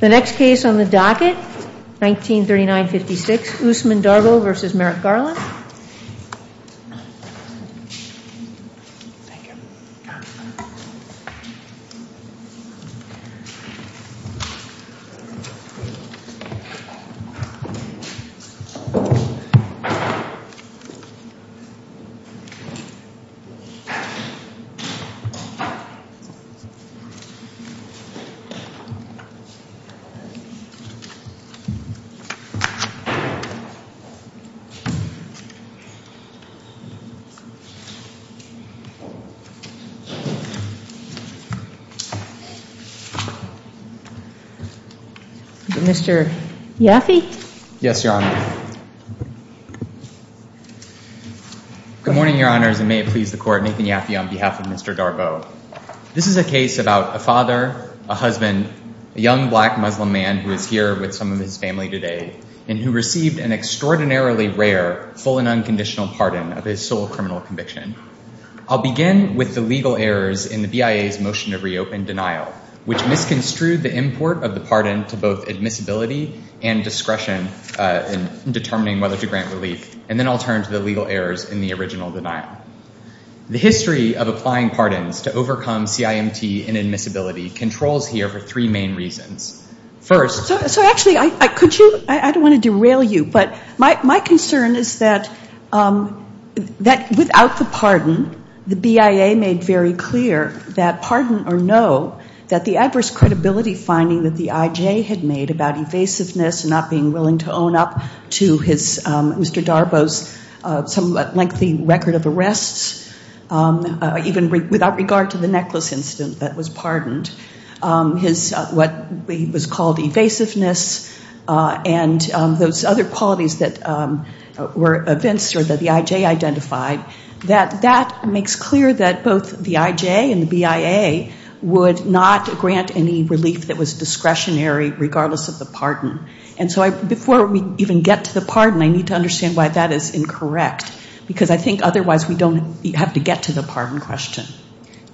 The next case on the docket, 1939-56, Usman Darboe v. Merrick Garland Good morning, Your Honors, and may it please the Court, Nathan Yaffe on behalf of Mr. Darboe. This is a case about a father, a husband, a young black Muslim man who is here with some of his family today, and who received an extraordinarily rare full and unconditional pardon of his sole criminal conviction. I'll begin with the legal errors in the BIA's motion to reopen denial, which misconstrued the import of the pardon to both admissibility and discretion in determining whether to grant relief, and then I'll turn to the legal errors in the original denial. The history of applying pardons to overcome CIMT and admissibility controls here for three main reasons. First— So actually, I don't want to derail you, but my concern is that without the pardon, the BIA made very clear that pardon or no, that the adverse credibility finding that the IJ had made about evasiveness and not being willing to own up to Mr. Darboe's somewhat lengthy record of arrests, even without regard to the necklace incident that was pardoned, what was called evasiveness, and those other qualities that were evinced or that the IJ identified, that that makes clear that both the IJ and the BIA would not grant any relief that was discretionary regardless of the pardon. And so before we even get to the pardon, I need to understand why that is incorrect, because I think otherwise we don't have to get to the pardon question.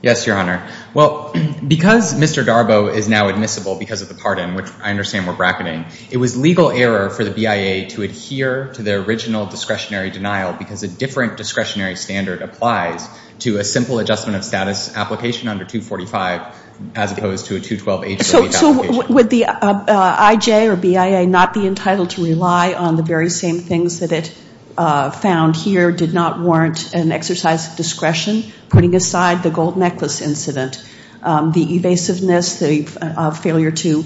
Yes, Your Honor. Well, because Mr. Darboe is now admissible because of the pardon, which I understand we're bracketing, it was legal error for the BIA to adhere to their original discretionary denial because a different discretionary standard applies to a simple adjustment of status application under 245, as opposed to a 212-H application. So would the IJ or BIA not be entitled to rely on the very same things that it found here, did not warrant an exercise of discretion, putting aside the gold necklace incident, the evasiveness, the failure to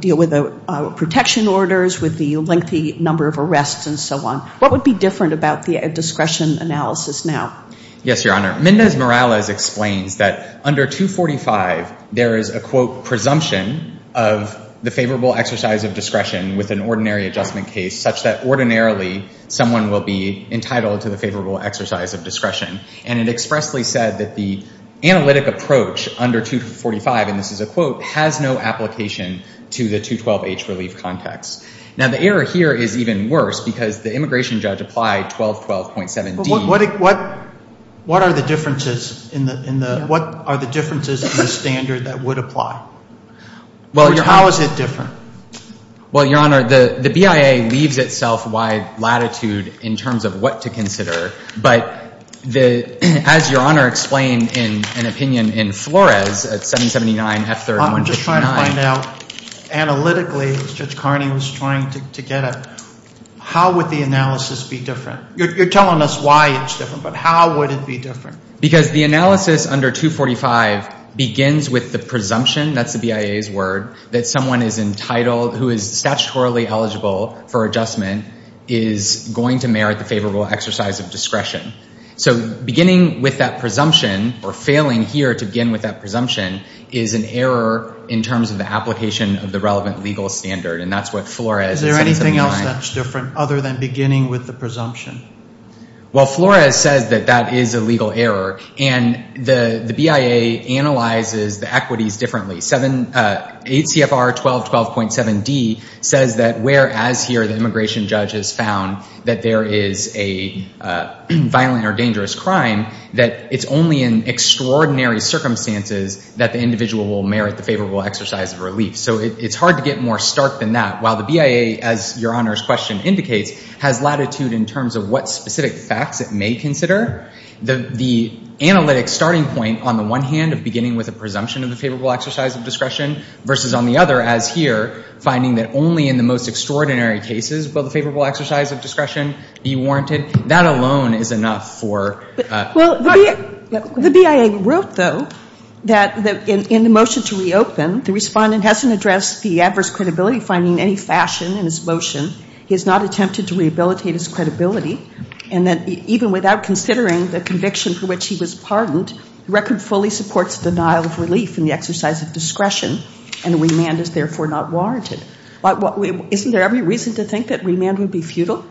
deal with the protection orders, with the lengthy number of arrests and so on? What would be different about the discretion analysis now? Yes, Your Honor. Mendez-Morales explains that under 245 there is a, quote, presumption of the favorable exercise of discretion with an ordinary adjustment case such that ordinarily someone will be entitled to the favorable exercise of discretion. And it expressly said that the analytic approach under 245, and this is a quote, has no application to the 212-H relief context. Now, the error here is even worse because the immigration judge applied 1212.7d. What are the differences in the standard that would apply? How is it different? Well, Your Honor, the BIA leaves itself wide latitude in terms of what to consider, but as Your Honor explained in an opinion in Flores at 779 F3-159. I'm just trying to find out analytically, as Judge Carney was trying to get at, how would the analysis be different? You're telling us why it's different, but how would it be different? Because the analysis under 245 begins with the presumption, that's the BIA's word, that someone is entitled, who is statutorily eligible for adjustment, is going to merit the favorable exercise of discretion. So beginning with that presumption, or failing here to begin with that presumption, is an error in terms of the application of the relevant legal standard, and that's what Flores at 779. Is there anything else that's different other than beginning with the presumption? Well, Flores says that that is a legal error, and the BIA analyzes the equities differently. ACFR 1212.7d says that whereas here the immigration judge has found that there is a violent or dangerous crime, that it's only in extraordinary circumstances that the individual will merit the favorable exercise of relief. So it's hard to get more stark than that. While the BIA, as Your Honor's question indicates, has latitude in terms of what specific facts it may consider, the analytic starting point, on the one hand, of beginning with a presumption of the favorable exercise of discretion, versus on the other, as here, finding that only in the most extraordinary cases will the favorable exercise of discretion be warranted, that alone is enough for. Well, the BIA wrote, though, that in the motion to reopen, the respondent hasn't addressed the adverse credibility finding in any fashion in his motion. He has not attempted to rehabilitate his credibility, and that even without considering the conviction for which he was pardoned, the record fully supports denial of relief in the exercise of discretion, and remand is therefore not warranted. Isn't there every reason to think that remand would be futile?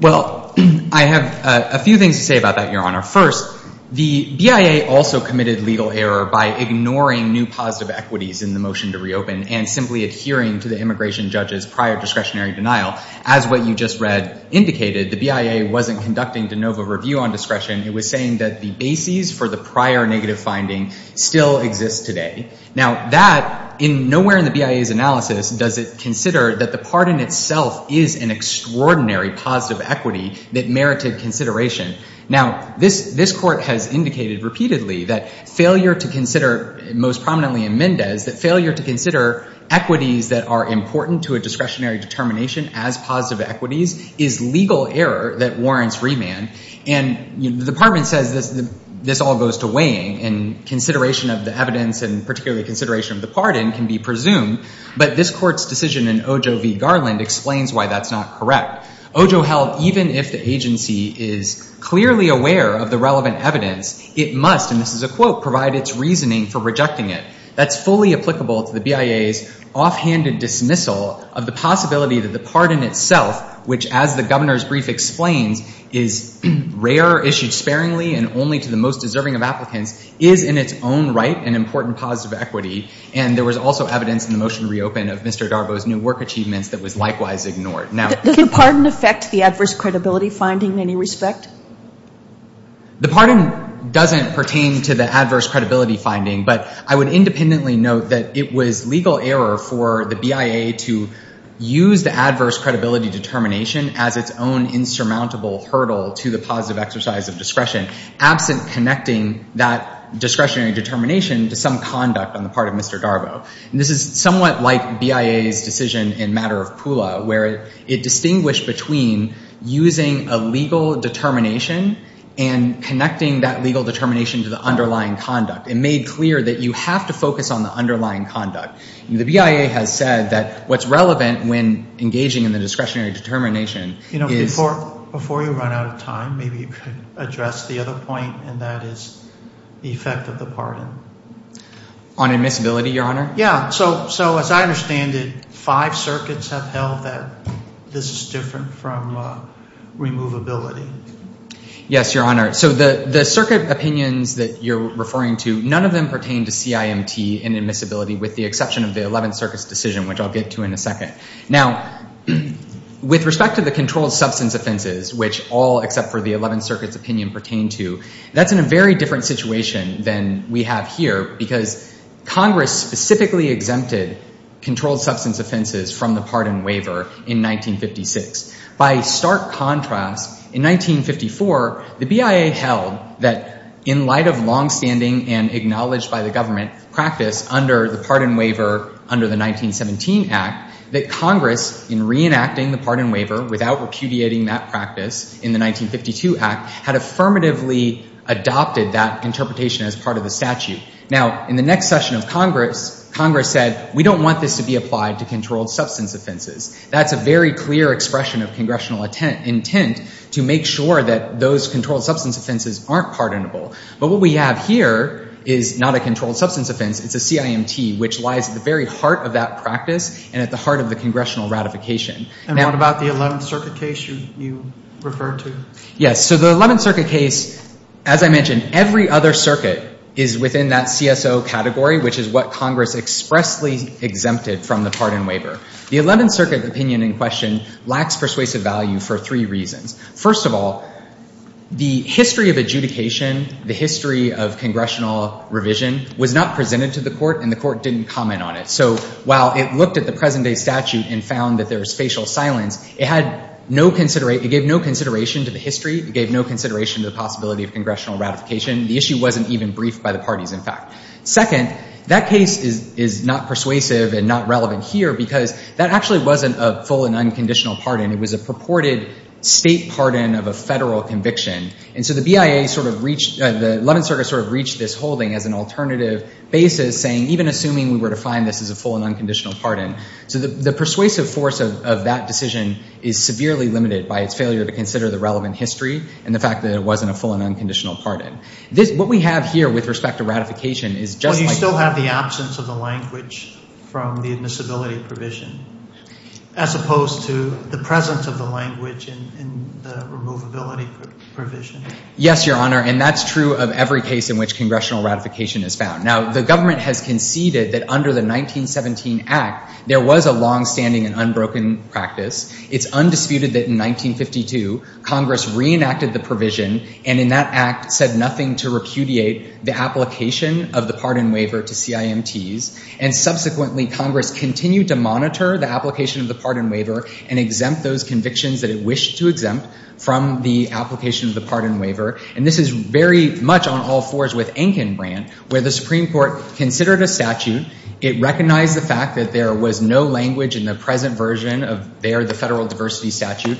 Well, I have a few things to say about that, Your Honor. First, the BIA also committed legal error by ignoring new positive equities in the motion to reopen and simply adhering to the immigration judge's prior discretionary denial. As what you just read indicated, the BIA wasn't conducting de novo review on discretion. It was saying that the bases for the prior negative finding still exist today. Now, that, nowhere in the BIA's analysis does it consider that the pardon itself is an extraordinary positive equity that merited consideration. Now, this Court has indicated repeatedly that failure to consider, most prominently in Mendez, that failure to consider equities that are important to a discretionary determination as positive equities is legal error that warrants remand. And the Department says this all goes to weighing, and consideration of the evidence and particularly consideration of the pardon can be presumed, but this Court's decision in Ojo v. Garland explains why that's not correct. Ojo held even if the agency is clearly aware of the relevant evidence, it must, and this is a quote, provide its reasoning for rejecting it. That's fully applicable to the BIA's offhanded dismissal of the possibility that the pardon itself, which as the Governor's brief explains, is rare, issued sparingly, and only to the most deserving of applicants, is in its own right an important positive equity, and there was also evidence in the motion to reopen of Mr. Garbo's new work achievements that was likewise ignored. Does the pardon affect the adverse credibility finding in any respect? The pardon doesn't pertain to the adverse credibility finding, but I would independently note that it was legal error for the BIA to use the adverse credibility determination as its own insurmountable hurdle to the positive exercise of discretion, absent connecting that discretionary determination to some conduct on the part of Mr. Garbo. And this is somewhat like BIA's decision in matter of Pula, where it distinguished between using a legal determination and connecting that legal determination to the underlying conduct. It made clear that you have to focus on the underlying conduct. The BIA has said that what's relevant when engaging in the discretionary determination is- Before you run out of time, maybe you could address the other point, and that is the effect of the pardon. On admissibility, Your Honor? Yeah, so as I understand it, five circuits have held that this is different from removability. Yes, Your Honor. So the circuit opinions that you're referring to, none of them pertain to CIMT and admissibility with the exception of the 11th Circuit's decision, which I'll get to in a second. Now, with respect to the controlled substance offenses, which all except for the 11th Circuit's opinion pertain to, that's in a very different situation than we have here because Congress specifically exempted controlled substance offenses from the pardon waiver in 1956. By stark contrast, in 1954, the BIA held that in light of longstanding and acknowledged by the government practice under the pardon waiver under the 1917 Act, that Congress, in reenacting the pardon waiver without repudiating that practice in the 1952 Act, had affirmatively adopted that interpretation as part of the statute. Now, in the next session of Congress, Congress said, we don't want this to be applied to controlled substance offenses. That's a very clear expression of congressional intent to make sure that those controlled substance offenses aren't pardonable. But what we have here is not a controlled substance offense. It's a CIMT, which lies at the very heart of that practice and at the heart of the congressional ratification. And what about the 11th Circuit case you referred to? Yes, so the 11th Circuit case, as I mentioned, every other circuit is within that CSO category, which is what Congress expressly exempted from the pardon waiver. The 11th Circuit opinion in question lacks persuasive value for three reasons. First of all, the history of adjudication, the history of congressional revision, was not presented to the court, and the court didn't comment on it. So while it looked at the present-day statute and found that there was facial silence, it gave no consideration to the history. It gave no consideration to the possibility of congressional ratification. The issue wasn't even briefed by the parties, in fact. Second, that case is not persuasive and not relevant here because that actually wasn't a full and unconditional pardon. It was a purported state pardon of a federal conviction. And so the 11th Circuit sort of reached this holding as an alternative basis, saying even assuming we were to find this as a full and unconditional pardon. So the persuasive force of that decision is severely limited by its failure to consider the relevant history and the fact that it wasn't a full and unconditional pardon. What we have here with respect to ratification is just like... But you still have the absence of the language from the admissibility provision as opposed to the presence of the language in the removability provision. Yes, Your Honor, and that's true of every case in which congressional ratification is found. Now, the government has conceded that under the 1917 Act, there was a longstanding and unbroken practice. It's undisputed that in 1952, Congress reenacted the provision and in that act said nothing to repudiate the application of the pardon waiver to CIMTs. And subsequently, Congress continued to monitor the application of the pardon waiver and exempt those convictions that it wished to exempt from the application of the pardon waiver. And this is very much on all fours with Enkin Brand, where the Supreme Court considered a statute. It recognized the fact that there was no language in the present version of there, the federal diversity statute,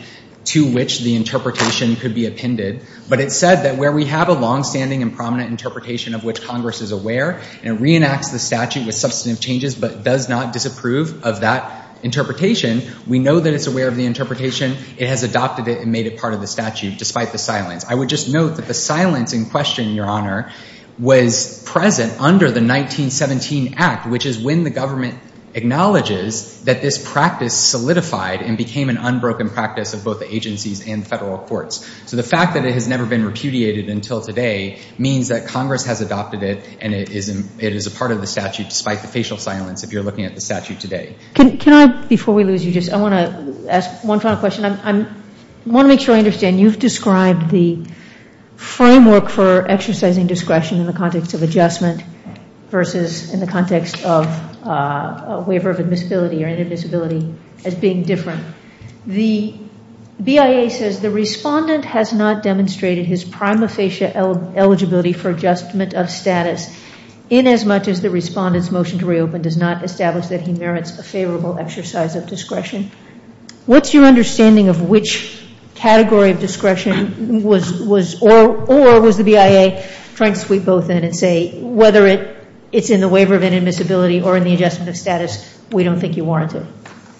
to which the interpretation could be appended. But it said that where we have a longstanding and prominent interpretation of which Congress is aware and reenacts the statute with substantive changes but does not disapprove of that interpretation, we know that it's aware of the interpretation. It has adopted it and made it part of the statute despite the silence. I would just note that the silence in question, Your Honor, was present under the 1917 Act, which is when the government acknowledges that this practice solidified and became an unbroken practice of both the agencies and federal courts. So the fact that it has never been repudiated until today means that Congress has adopted it and it is a part of the statute despite the facial silence if you're looking at the statute today. Can I, before we lose you, just, I want to ask one final question. I want to make sure I understand. You've described the framework for exercising discretion in the context of adjustment versus in the context of a waiver of admissibility or inadmissibility as being different. The BIA says the respondent has not demonstrated his prima facie eligibility for adjustment of status inasmuch as the respondent's motion to reopen does not establish that he merits a favorable exercise of discretion. What's your understanding of which category of discretion was, or was the BIA trying to sweep both in and say whether it's in the waiver of inadmissibility or in the adjustment of status, we don't think you warrant it?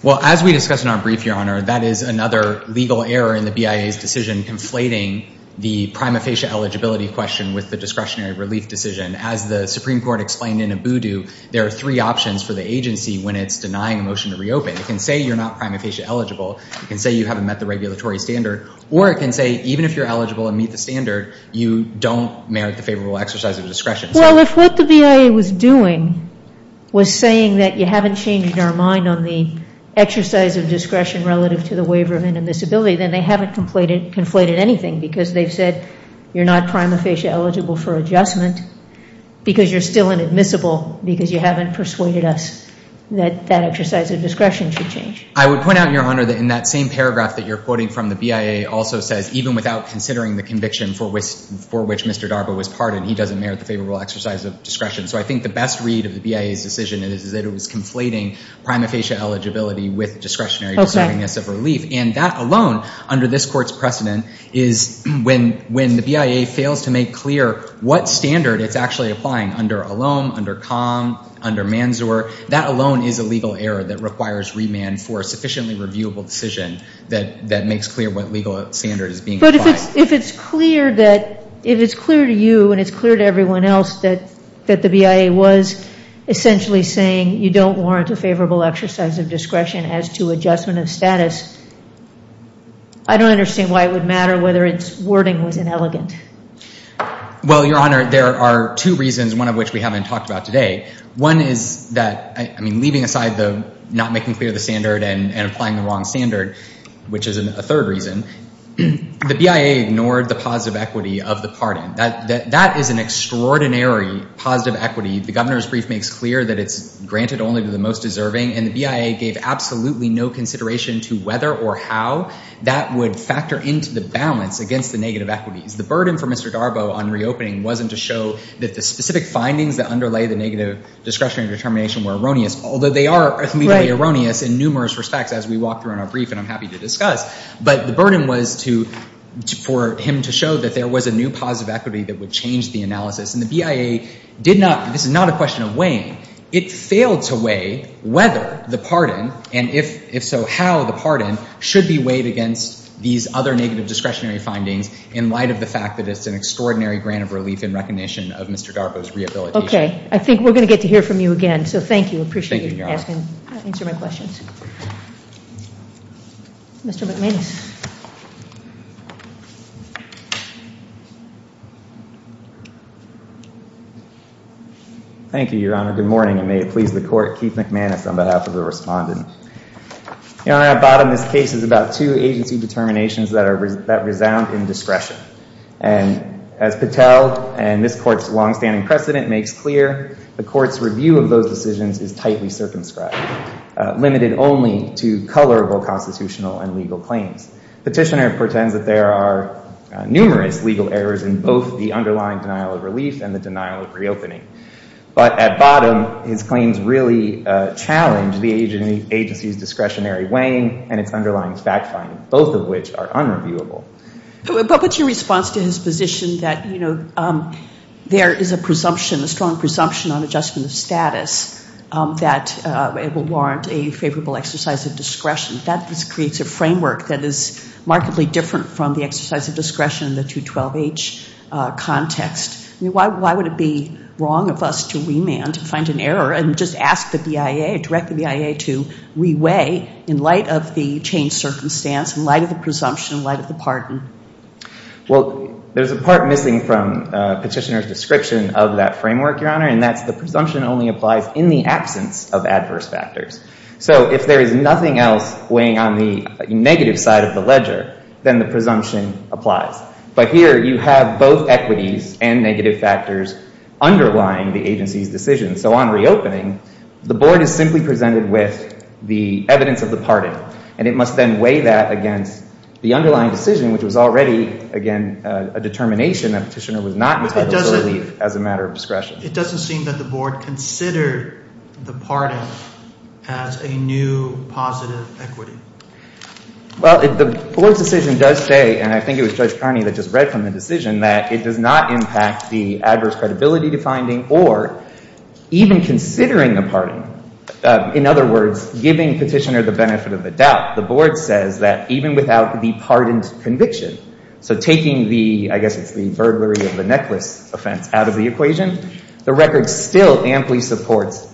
Well, as we discussed in our brief, Your Honor, that is another legal error in the BIA's decision conflating the prima facie eligibility question with the discretionary relief decision. As the Supreme Court explained in Abudu, there are three options for the agency when it's denying a motion to reopen. It can say you're not prima facie eligible. It can say you haven't met the regulatory standard. Or it can say even if you're eligible and meet the standard, you don't merit the favorable exercise of discretion. Well, if what the BIA was doing was saying that you haven't changed our mind on the exercise of discretion relative to the waiver of inadmissibility, then they haven't conflated anything because they've said you're not prima facie eligible for adjustment because you're still inadmissible because you haven't persuaded us that that exercise of discretion should change. I would point out, Your Honor, that in that same paragraph that you're quoting from the BIA also says, even without considering the conviction for which Mr. Darbo was pardoned, he doesn't merit the favorable exercise of discretion. So I think the best read of the BIA's decision is that it was conflating prima facie eligibility with discretionary deservingness of relief. And that alone, under this Court's precedent, is when the BIA fails to make clear what standard it's actually applying under Elom, under Com, under Manzur, that alone is a legal error that requires remand for a sufficiently reviewable decision that makes clear what legal standard is being applied. But if it's clear to you and it's clear to everyone else that the BIA was essentially saying you don't warrant a favorable exercise of discretion as to adjustment of status, I don't understand why it would matter whether its wording was inelegant. Well, Your Honor, there are two reasons, one of which we haven't talked about today. One is that, I mean, leaving aside the not making clear the standard and applying the wrong standard, which is a third reason, the BIA ignored the positive equity of the pardon. That is an extraordinary positive equity. The governor's brief makes clear that it's granted only to the most deserving, and the BIA gave absolutely no consideration to whether or how that would factor into the balance against the negative equities. The burden for Mr. Darbo on reopening wasn't to show that the specific findings that underlay the negative discretionary determination were erroneous, although they are legally erroneous in numerous respects as we walk through in our brief, and I'm happy to discuss, but the burden was for him to show that there was a new positive equity that would change the analysis, and the BIA did not, this is not a question of weighing, it failed to weigh whether the pardon, and if so, how the pardon should be weighed against these other negative discretionary findings in light of the fact that it's an extraordinary grant of relief in recognition of Mr. Darbo's rehabilitation. Okay. I think we're going to get to hear from you again, so thank you. Thank you, Your Honor. I appreciate you answering my questions. Mr. McManus. Thank you, Your Honor. Good morning, and may it please the court, Keith McManus on behalf of the respondent. Your Honor, at the bottom of this case is about two agency determinations that resound in discretion, and as Patel and this court's longstanding precedent makes clear, the court's review of those decisions is tightly circumscribed, limited only to colorable constitutional and legal claims. Petitioner pretends that there are numerous legal errors in both the underlying denial of relief and the denial of reopening, but at bottom, his claims really challenge the agency's discretionary weighing and its underlying fact finding, both of which are unreviewable. But what's your response to his position that, you know, there is a presumption, a strong presumption on adjustment of status, that it will warrant a favorable exercise of discretion? That just creates a framework that is markedly different from the exercise of discretion in the 212H context. I mean, why would it be wrong of us to remand, to find an error, and just ask the BIA, direct the BIA to re-weigh in light of the changed circumstance, in light of the presumption, in light of the pardon? Well, there's a part missing from Petitioner's description of that framework, Your Honor, and that's the presumption only applies in the absence of adverse factors. So if there is nothing else weighing on the negative side of the ledger, then the presumption applies. But here, you have both equities and negative factors underlying the agency's decision. So on reopening, the board is simply presented with the evidence of the pardon, and it must then weigh that against the underlying decision, which was already, again, a determination that Petitioner was not entitled to leave as a matter of discretion. It doesn't seem that the board considered the pardon as a new positive equity. Well, the board's decision does say, and I think it was Judge Carney that just read from the decision, that it does not impact the adverse credibility to finding or even considering the pardon. In other words, giving Petitioner the benefit of the doubt, the board says that even without the pardoned conviction, so taking the, I guess it's the burglary of the necklace offense, out of the equation, the record still amply supports,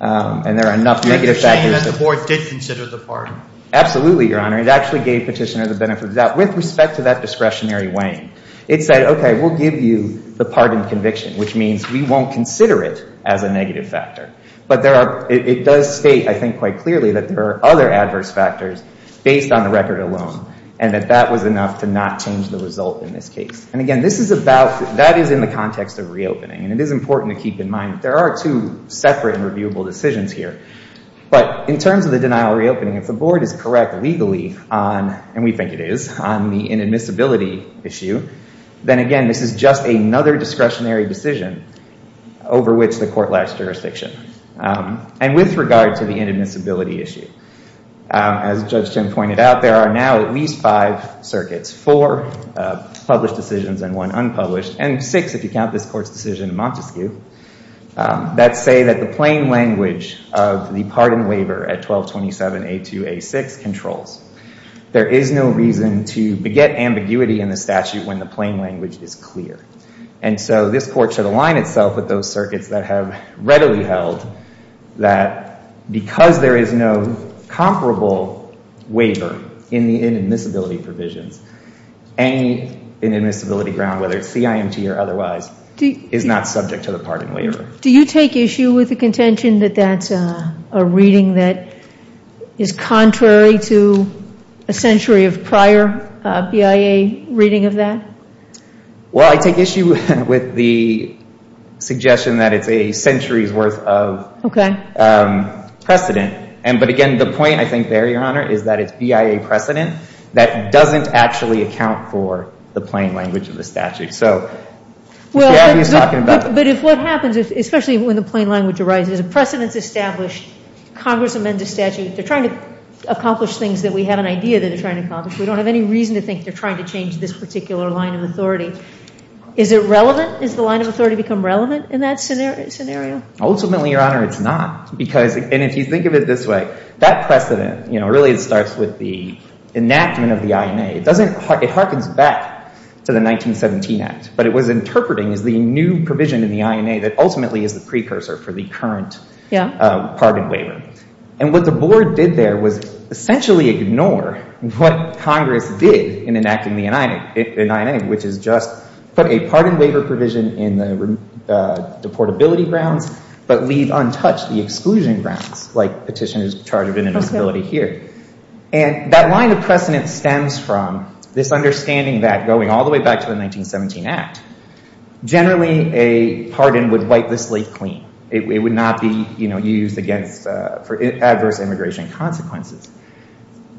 and there are enough negative factors. You're saying that the board did consider the pardon? Absolutely, Your Honor. It actually gave Petitioner the benefit of the doubt, with respect to that discretionary weighing. It said, okay, we'll give you the pardoned conviction, which means we won't consider it as a negative factor. But it does state, I think quite clearly, that there are other adverse factors based on the record alone, and that that was enough to not change the result in this case. And again, this is about, that is in the context of reopening, and it is important to keep in mind that there are two separate and reviewable decisions here. But in terms of the denial of reopening, if the board is correct legally on, and we think it is, on the inadmissibility issue, then again this is just another discretionary decision over which the court lacks jurisdiction. And with regard to the inadmissibility issue, as Judge Chin pointed out, there are now at least five circuits, four published decisions and one unpublished, and six, if you count this court's decision in Montesquieu, that say that the plain language of the pardon waiver at 1227A2A6 controls. There is no reason to beget ambiguity in the statute when the plain language is clear. And so this court should align itself with those circuits that have readily held that because there is no comparable waiver in the inadmissibility provisions, any inadmissibility ground, whether it's CIMT or otherwise, is not subject to the pardon waiver. Do you take issue with the contention that that's a reading that is contrary to a century of prior BIA reading of that? Well, I take issue with the suggestion that it's a century's worth of precedent. But again, the point, I think, there, Your Honor, is that it's BIA precedent that doesn't actually account for the plain language of the statute. But if what happens, especially when the plain language arises, a precedent is established, Congress amends a statute, they're trying to accomplish things that we had an idea that they're trying to accomplish, we don't have any reason to think they're trying to change this particular line of authority. Is it relevant? Does the line of authority become relevant in that scenario? Ultimately, Your Honor, it's not. And if you think of it this way, that precedent, you know, really it starts with the enactment of the INA. It harkens back to the 1917 Act. But it was interpreting as the new provision in the INA that ultimately is the precursor for the current pardon waiver. And what the board did there was essentially ignore what Congress did in enacting the INA, which is just put a pardon waiver provision in the deportability grounds but leave untouched the exclusion grounds, like petitioners charged with inadmissibility here. And that line of precedent stems from this understanding that, going all the way back to the 1917 Act, generally a pardon would wipe the slate clean. It would not be used for adverse immigration consequences.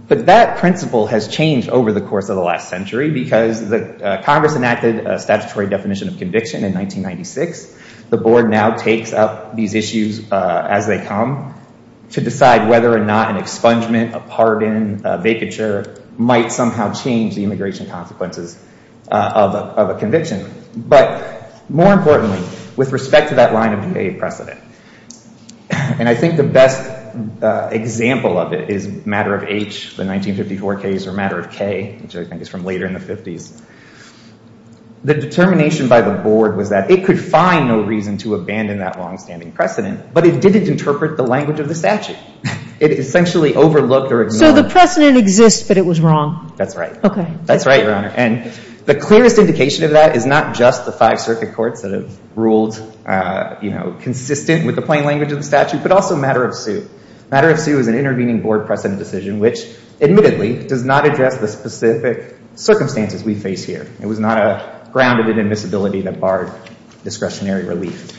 But that principle has changed over the course of the last century because Congress enacted a statutory definition of conviction in 1996. The board now takes up these issues as they come to decide whether or not an expungement, a pardon, a vacature might somehow change the immigration consequences of a conviction. But more importantly, with respect to that line of debate precedent, and I think the best example of it is Matter of H, the 1954 case, or Matter of K, which I think is from later in the 50s, the determination by the board was that it could find no reason to abandon that longstanding precedent, but it didn't interpret the language of the statute. It essentially overlooked or ignored. So the precedent exists, but it was wrong. That's right. Okay. That's right, Your Honor. And the clearest indication of that is not just the five circuit courts that have ruled, you know, consistent with the plain language of the statute, but also Matter of H. Matter of H is an intervening board precedent decision, which admittedly does not address the specific circumstances we face here. It was not a grounded inadmissibility that barred discretionary relief.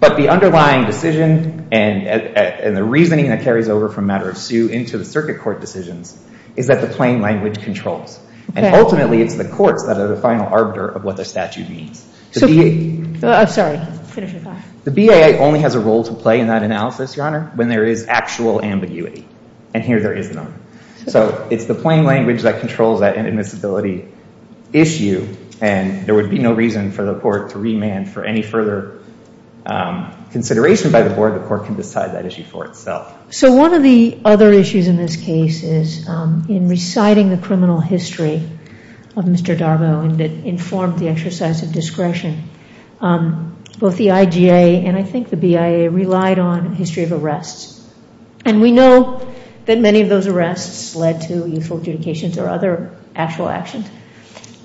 But the underlying decision and the reasoning that carries over from Matter of H into the circuit court decisions is that the plain language controls. Okay. And ultimately it's the courts that are the final arbiter of what the statute means. I'm sorry. Finish your thought. The BAA only has a role to play in that analysis, Your Honor, when there is actual ambiguity. And here there is none. So it's the plain language that controls that inadmissibility issue, and there would be no reason for the court to remand for any further consideration by the board. The court can decide that issue for itself. So one of the other issues in this case is in reciting the criminal history of Mr. Darbo and it informed the exercise of discretion, both the IGA and I think the BIA relied on history of arrests. And we know that many of those arrests led to youthful adjudications or other actual actions.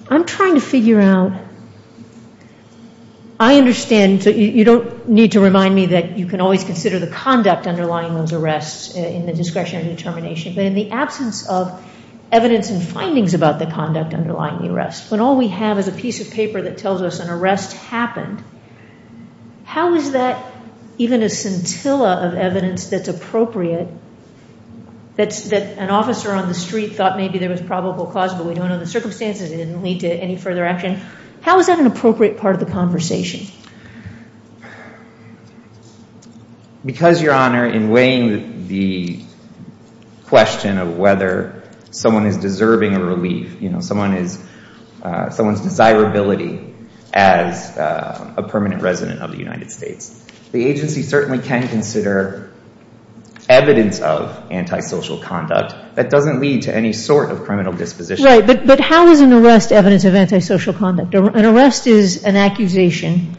I'm trying to figure out, I understand, so you don't need to remind me that you can always consider the conduct underlying those arrests in the discretionary determination, but in the absence of evidence and findings about the conduct underlying the arrests, when all we have is a piece of paper that tells us an arrest happened, how is that even a scintilla of evidence that's appropriate, that an officer on the street thought maybe there was probable cause, but we don't know the circumstances, it didn't lead to any further action, how is that an appropriate part of the conversation? Because, Your Honor, in weighing the question of whether someone is deserving of relief, someone's desirability as a permanent resident of the United States, the agency certainly can consider evidence of antisocial conduct that doesn't lead to any sort of criminal disposition. Right, but how is an arrest evidence of antisocial conduct? An arrest is an accusation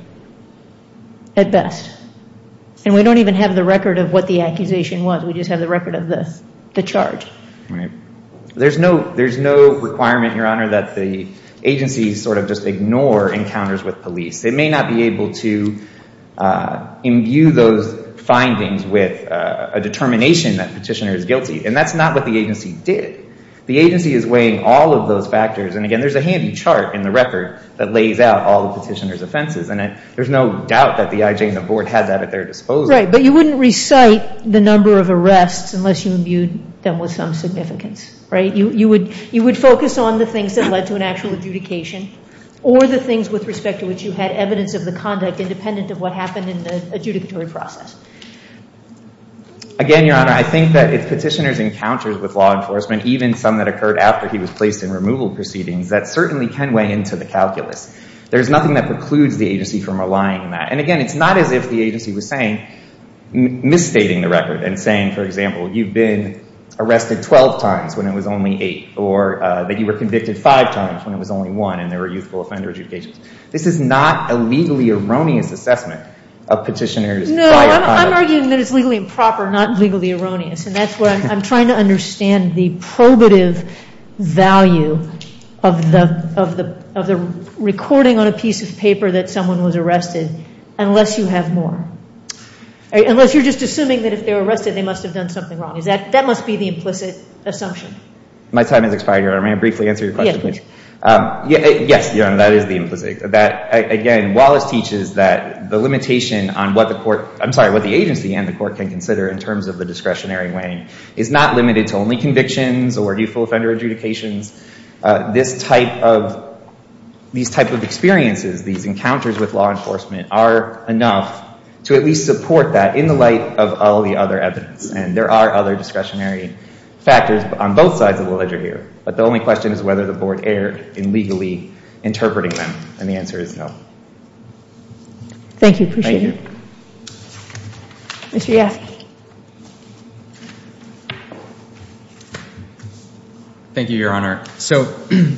at best, and we don't even have the record of what the accusation was, we just have the record of the charge. There's no requirement, Your Honor, that the agency sort of just ignore encounters with police. They may not be able to imbue those findings with a determination that the petitioner is guilty, and that's not what the agency did. The agency is weighing all of those factors, and again there's a handy chart in the record that lays out all the petitioner's offenses, and there's no doubt that the IJ and the Board had that at their disposal. Right, but you wouldn't recite the number of arrests unless you imbued them with some significance, right? You would focus on the things that led to an actual adjudication, or the things with respect to which you had evidence of the conduct independent of what happened in the adjudicatory process. Again, Your Honor, I think that if petitioners encountered with law enforcement, even some that occurred after he was placed in removal proceedings, that certainly can weigh into the calculus. There's nothing that precludes the agency from relying on that, and again it's not as if the agency was saying, misstating the record and saying, for example, you've been arrested 12 times when it was only 8, or that you were convicted 5 times when it was only 1, and there were youthful offender adjudications. This is not a legally erroneous assessment of petitioner's prior conduct. I'm arguing that it's legally improper, not legally erroneous, and that's what I'm trying to understand, the probative value of the recording on a piece of paper that someone was arrested, unless you have more. Unless you're just assuming that if they were arrested, they must have done something wrong. That must be the implicit assumption. My time has expired, Your Honor. May I briefly answer your question, please? Yes, please. Yes, Your Honor, that is the implicit assumption. Again, Wallace teaches that the limitation on what the agency and the court can consider in terms of the discretionary weighing is not limited to only convictions or youthful offender adjudications. These type of experiences, these encounters with law enforcement are enough to at least support that in the light of all the other evidence, and there are other discretionary factors on both sides of the ledger here, but the only question is whether the board erred in legally interpreting them, and the answer is no. Thank you. Appreciate it. Thank you. Mr. Yasky. Thank you, Your Honor. So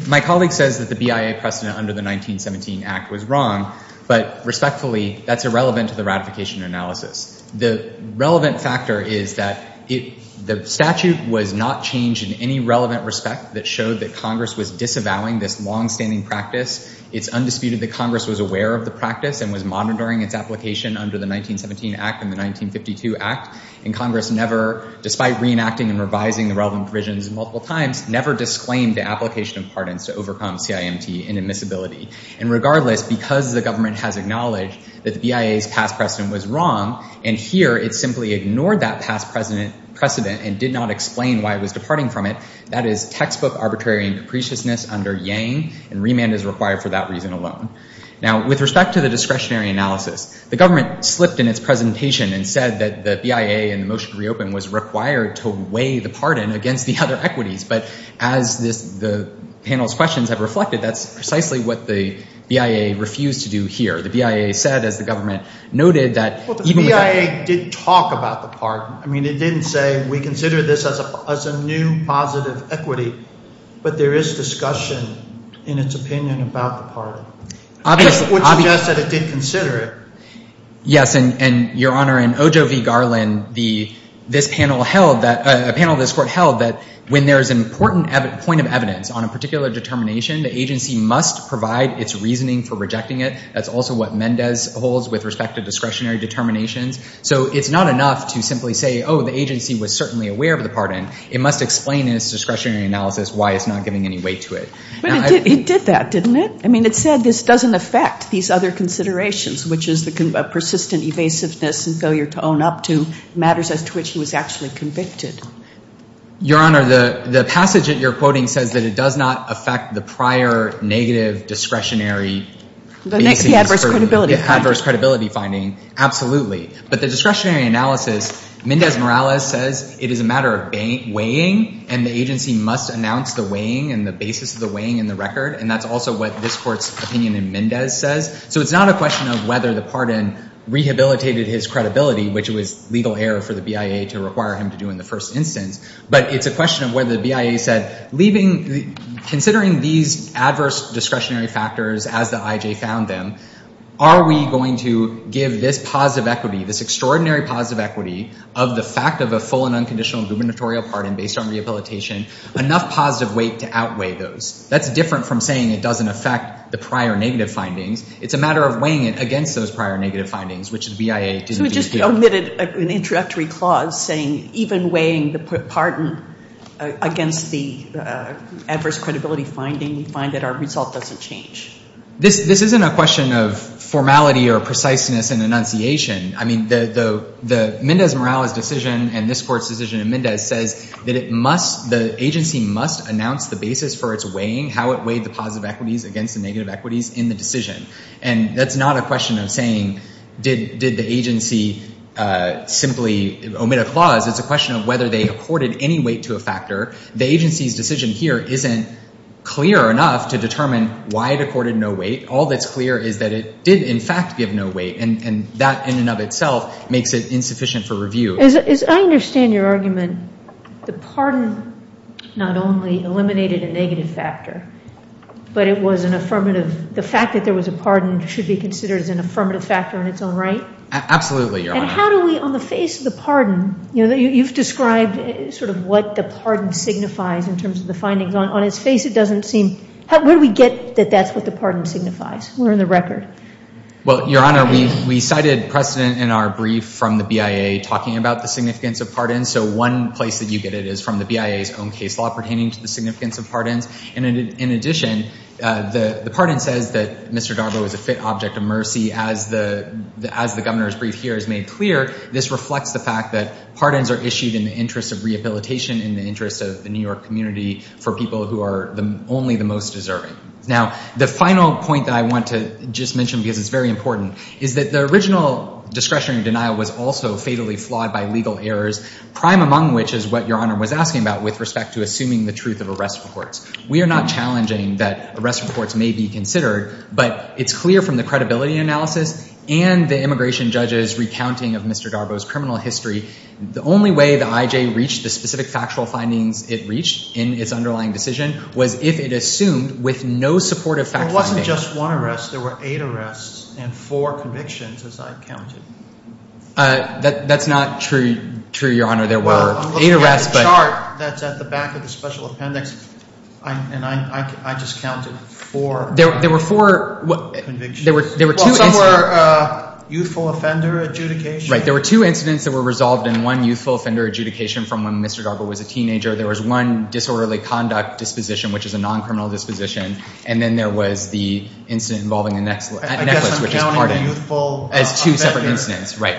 my colleague says that the BIA precedent under the 1917 Act was wrong, but respectfully, that's irrelevant to the ratification analysis. The relevant factor is that the statute was not changed in any relevant respect that showed that Congress was disavowing this longstanding practice. It's undisputed that Congress was aware of the practice and was monitoring its application under the 1917 Act and the 1952 Act, and Congress never, despite reenacting and revising the relevant provisions multiple times, never disclaimed the application of pardons to overcome CIMT and admissibility. And regardless, because the government has acknowledged that the BIA's past precedent was wrong, and here it simply ignored that past precedent and did not explain why it was departing from it, that is textbook arbitrary and capriciousness under Yang, and remand is required for that reason alone. Now, with respect to the discretionary analysis, the government slipped in its presentation and said that the BIA in the motion to reopen was required to weigh the pardon against the other equities, but as the panel's questions have reflected, that's precisely what the BIA refused to do here. The BIA said, as the government noted, that even with that – Well, the BIA did talk about the pardon. I mean, it didn't say we consider this as a new positive equity, but there is discussion in its opinion about the pardon, which suggests that it did consider it. Yes, and, Your Honor, in Ojo v. Garland, this panel held that – a panel of this court held that when there is an important point of evidence on a particular determination, the agency must provide its reasoning for rejecting it. That's also what Mendez holds with respect to discretionary determinations. So it's not enough to simply say, oh, the agency was certainly aware of the pardon. It must explain in its discretionary analysis why it's not giving any weight to it. But it did that, didn't it? I mean, it said this doesn't affect these other considerations, which is the persistent evasiveness and failure to own up to matters as to which he was actually convicted. Your Honor, the passage that you're quoting says that it does not affect the prior negative discretionary – The adverse credibility finding. Yeah, adverse credibility finding, absolutely. But the discretionary analysis, Mendez-Morales says it is a matter of weighing, and the agency must announce the weighing and the basis of the weighing in the record, and that's also what this court's opinion in Mendez says. So it's not a question of whether the pardon rehabilitated his credibility, which was legal error for the BIA to require him to do in the first instance, but it's a question of whether the BIA said, considering these adverse discretionary factors as the IJ found them, are we going to give this positive equity, this extraordinary positive equity, of the fact of a full and unconditional gubernatorial pardon based on rehabilitation enough positive weight to outweigh those? That's different from saying it doesn't affect the prior negative findings. It's a matter of weighing it against those prior negative findings, which the BIA didn't do. He omitted an introductory clause saying even weighing the pardon against the adverse credibility finding, we find that our result doesn't change. This isn't a question of formality or preciseness in enunciation. I mean, the Mendez-Morales decision and this court's decision in Mendez says that the agency must announce the basis for its weighing, how it weighed the positive equities against the negative equities in the decision, and that's not a question of saying did the agency simply omit a clause. It's a question of whether they accorded any weight to a factor. The agency's decision here isn't clear enough to determine why it accorded no weight. All that's clear is that it did, in fact, give no weight, and that in and of itself makes it insufficient for review. As I understand your argument, the pardon not only eliminated a negative factor, but it was an affirmative, the fact that there was a pardon should be considered as an affirmative factor in its own right? Absolutely, Your Honor. And how do we, on the face of the pardon, you know, you've described sort of what the pardon signifies in terms of the findings. On its face, it doesn't seem, where do we get that that's what the pardon signifies? Where in the record? Well, Your Honor, we cited precedent in our brief from the BIA talking about the significance of pardons, so one place that you get it is from the BIA's own case law pertaining to the significance of pardons, and in addition, the pardon says that Mr. Darbo is a fit object of mercy as the governor's brief here is made clear. This reflects the fact that pardons are issued in the interest of rehabilitation, in the interest of the New York community, for people who are only the most deserving. Now, the final point that I want to just mention, because it's very important, is that the original discretionary denial was also fatally flawed by legal errors, prime among which is what Your Honor was asking about with respect to assuming the truth of arrest reports. We are not challenging that arrest reports may be considered, but it's clear from the credibility analysis and the immigration judge's recounting of Mr. Darbo's criminal history, the only way the IJ reached the specific factual findings it reached in its underlying decision was if it assumed with no supportive factual findings. It wasn't just one arrest. There were eight arrests and four convictions, as I counted. That's not true, Your Honor. I'm looking at the chart that's at the back of the special appendix, and I just counted four convictions. Some were youthful offender adjudication. Right. There were two incidents that were resolved in one youthful offender adjudication from when Mr. Darbo was a teenager. There was one disorderly conduct disposition, which is a non-criminal disposition, and then there was the incident involving the necklace, which is pardon. I guess I'm counting the youthful offender. As two separate incidents, right.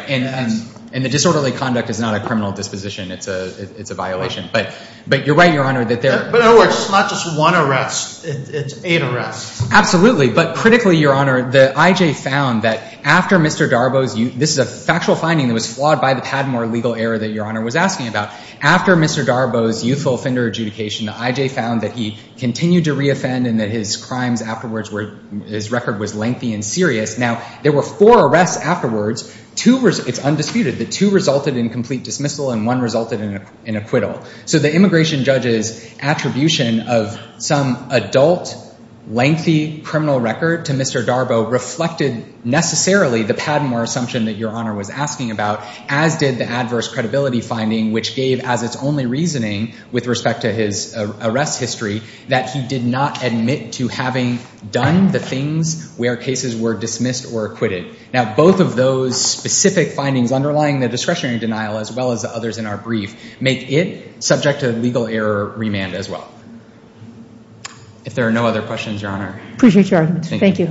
And the disorderly conduct is not a criminal disposition. It's a violation. But you're right, Your Honor. But it's not just one arrest. It's eight arrests. Absolutely. But critically, Your Honor, the IJ found that after Mr. Darbo's – this is a factual finding that was flawed by the Padmore legal error that Your Honor was asking about. After Mr. Darbo's youthful offender adjudication, the IJ found that he continued to reoffend and that his crimes afterwards, his record was lengthy and serious. Now, there were four arrests afterwards. It's undisputed that two resulted in complete dismissal and one resulted in acquittal. So the immigration judge's attribution of some adult, lengthy criminal record to Mr. Darbo reflected necessarily the Padmore assumption that Your Honor was asking about, as did the adverse credibility finding, which gave as its only reasoning with respect to his arrest history that he did not admit to having done the things where cases were dismissed or acquitted. Now, both of those specific findings underlying the discretionary denial as well as the others in our brief make it subject to legal error remand as well. If there are no other questions, Your Honor. Thank you. Thank you.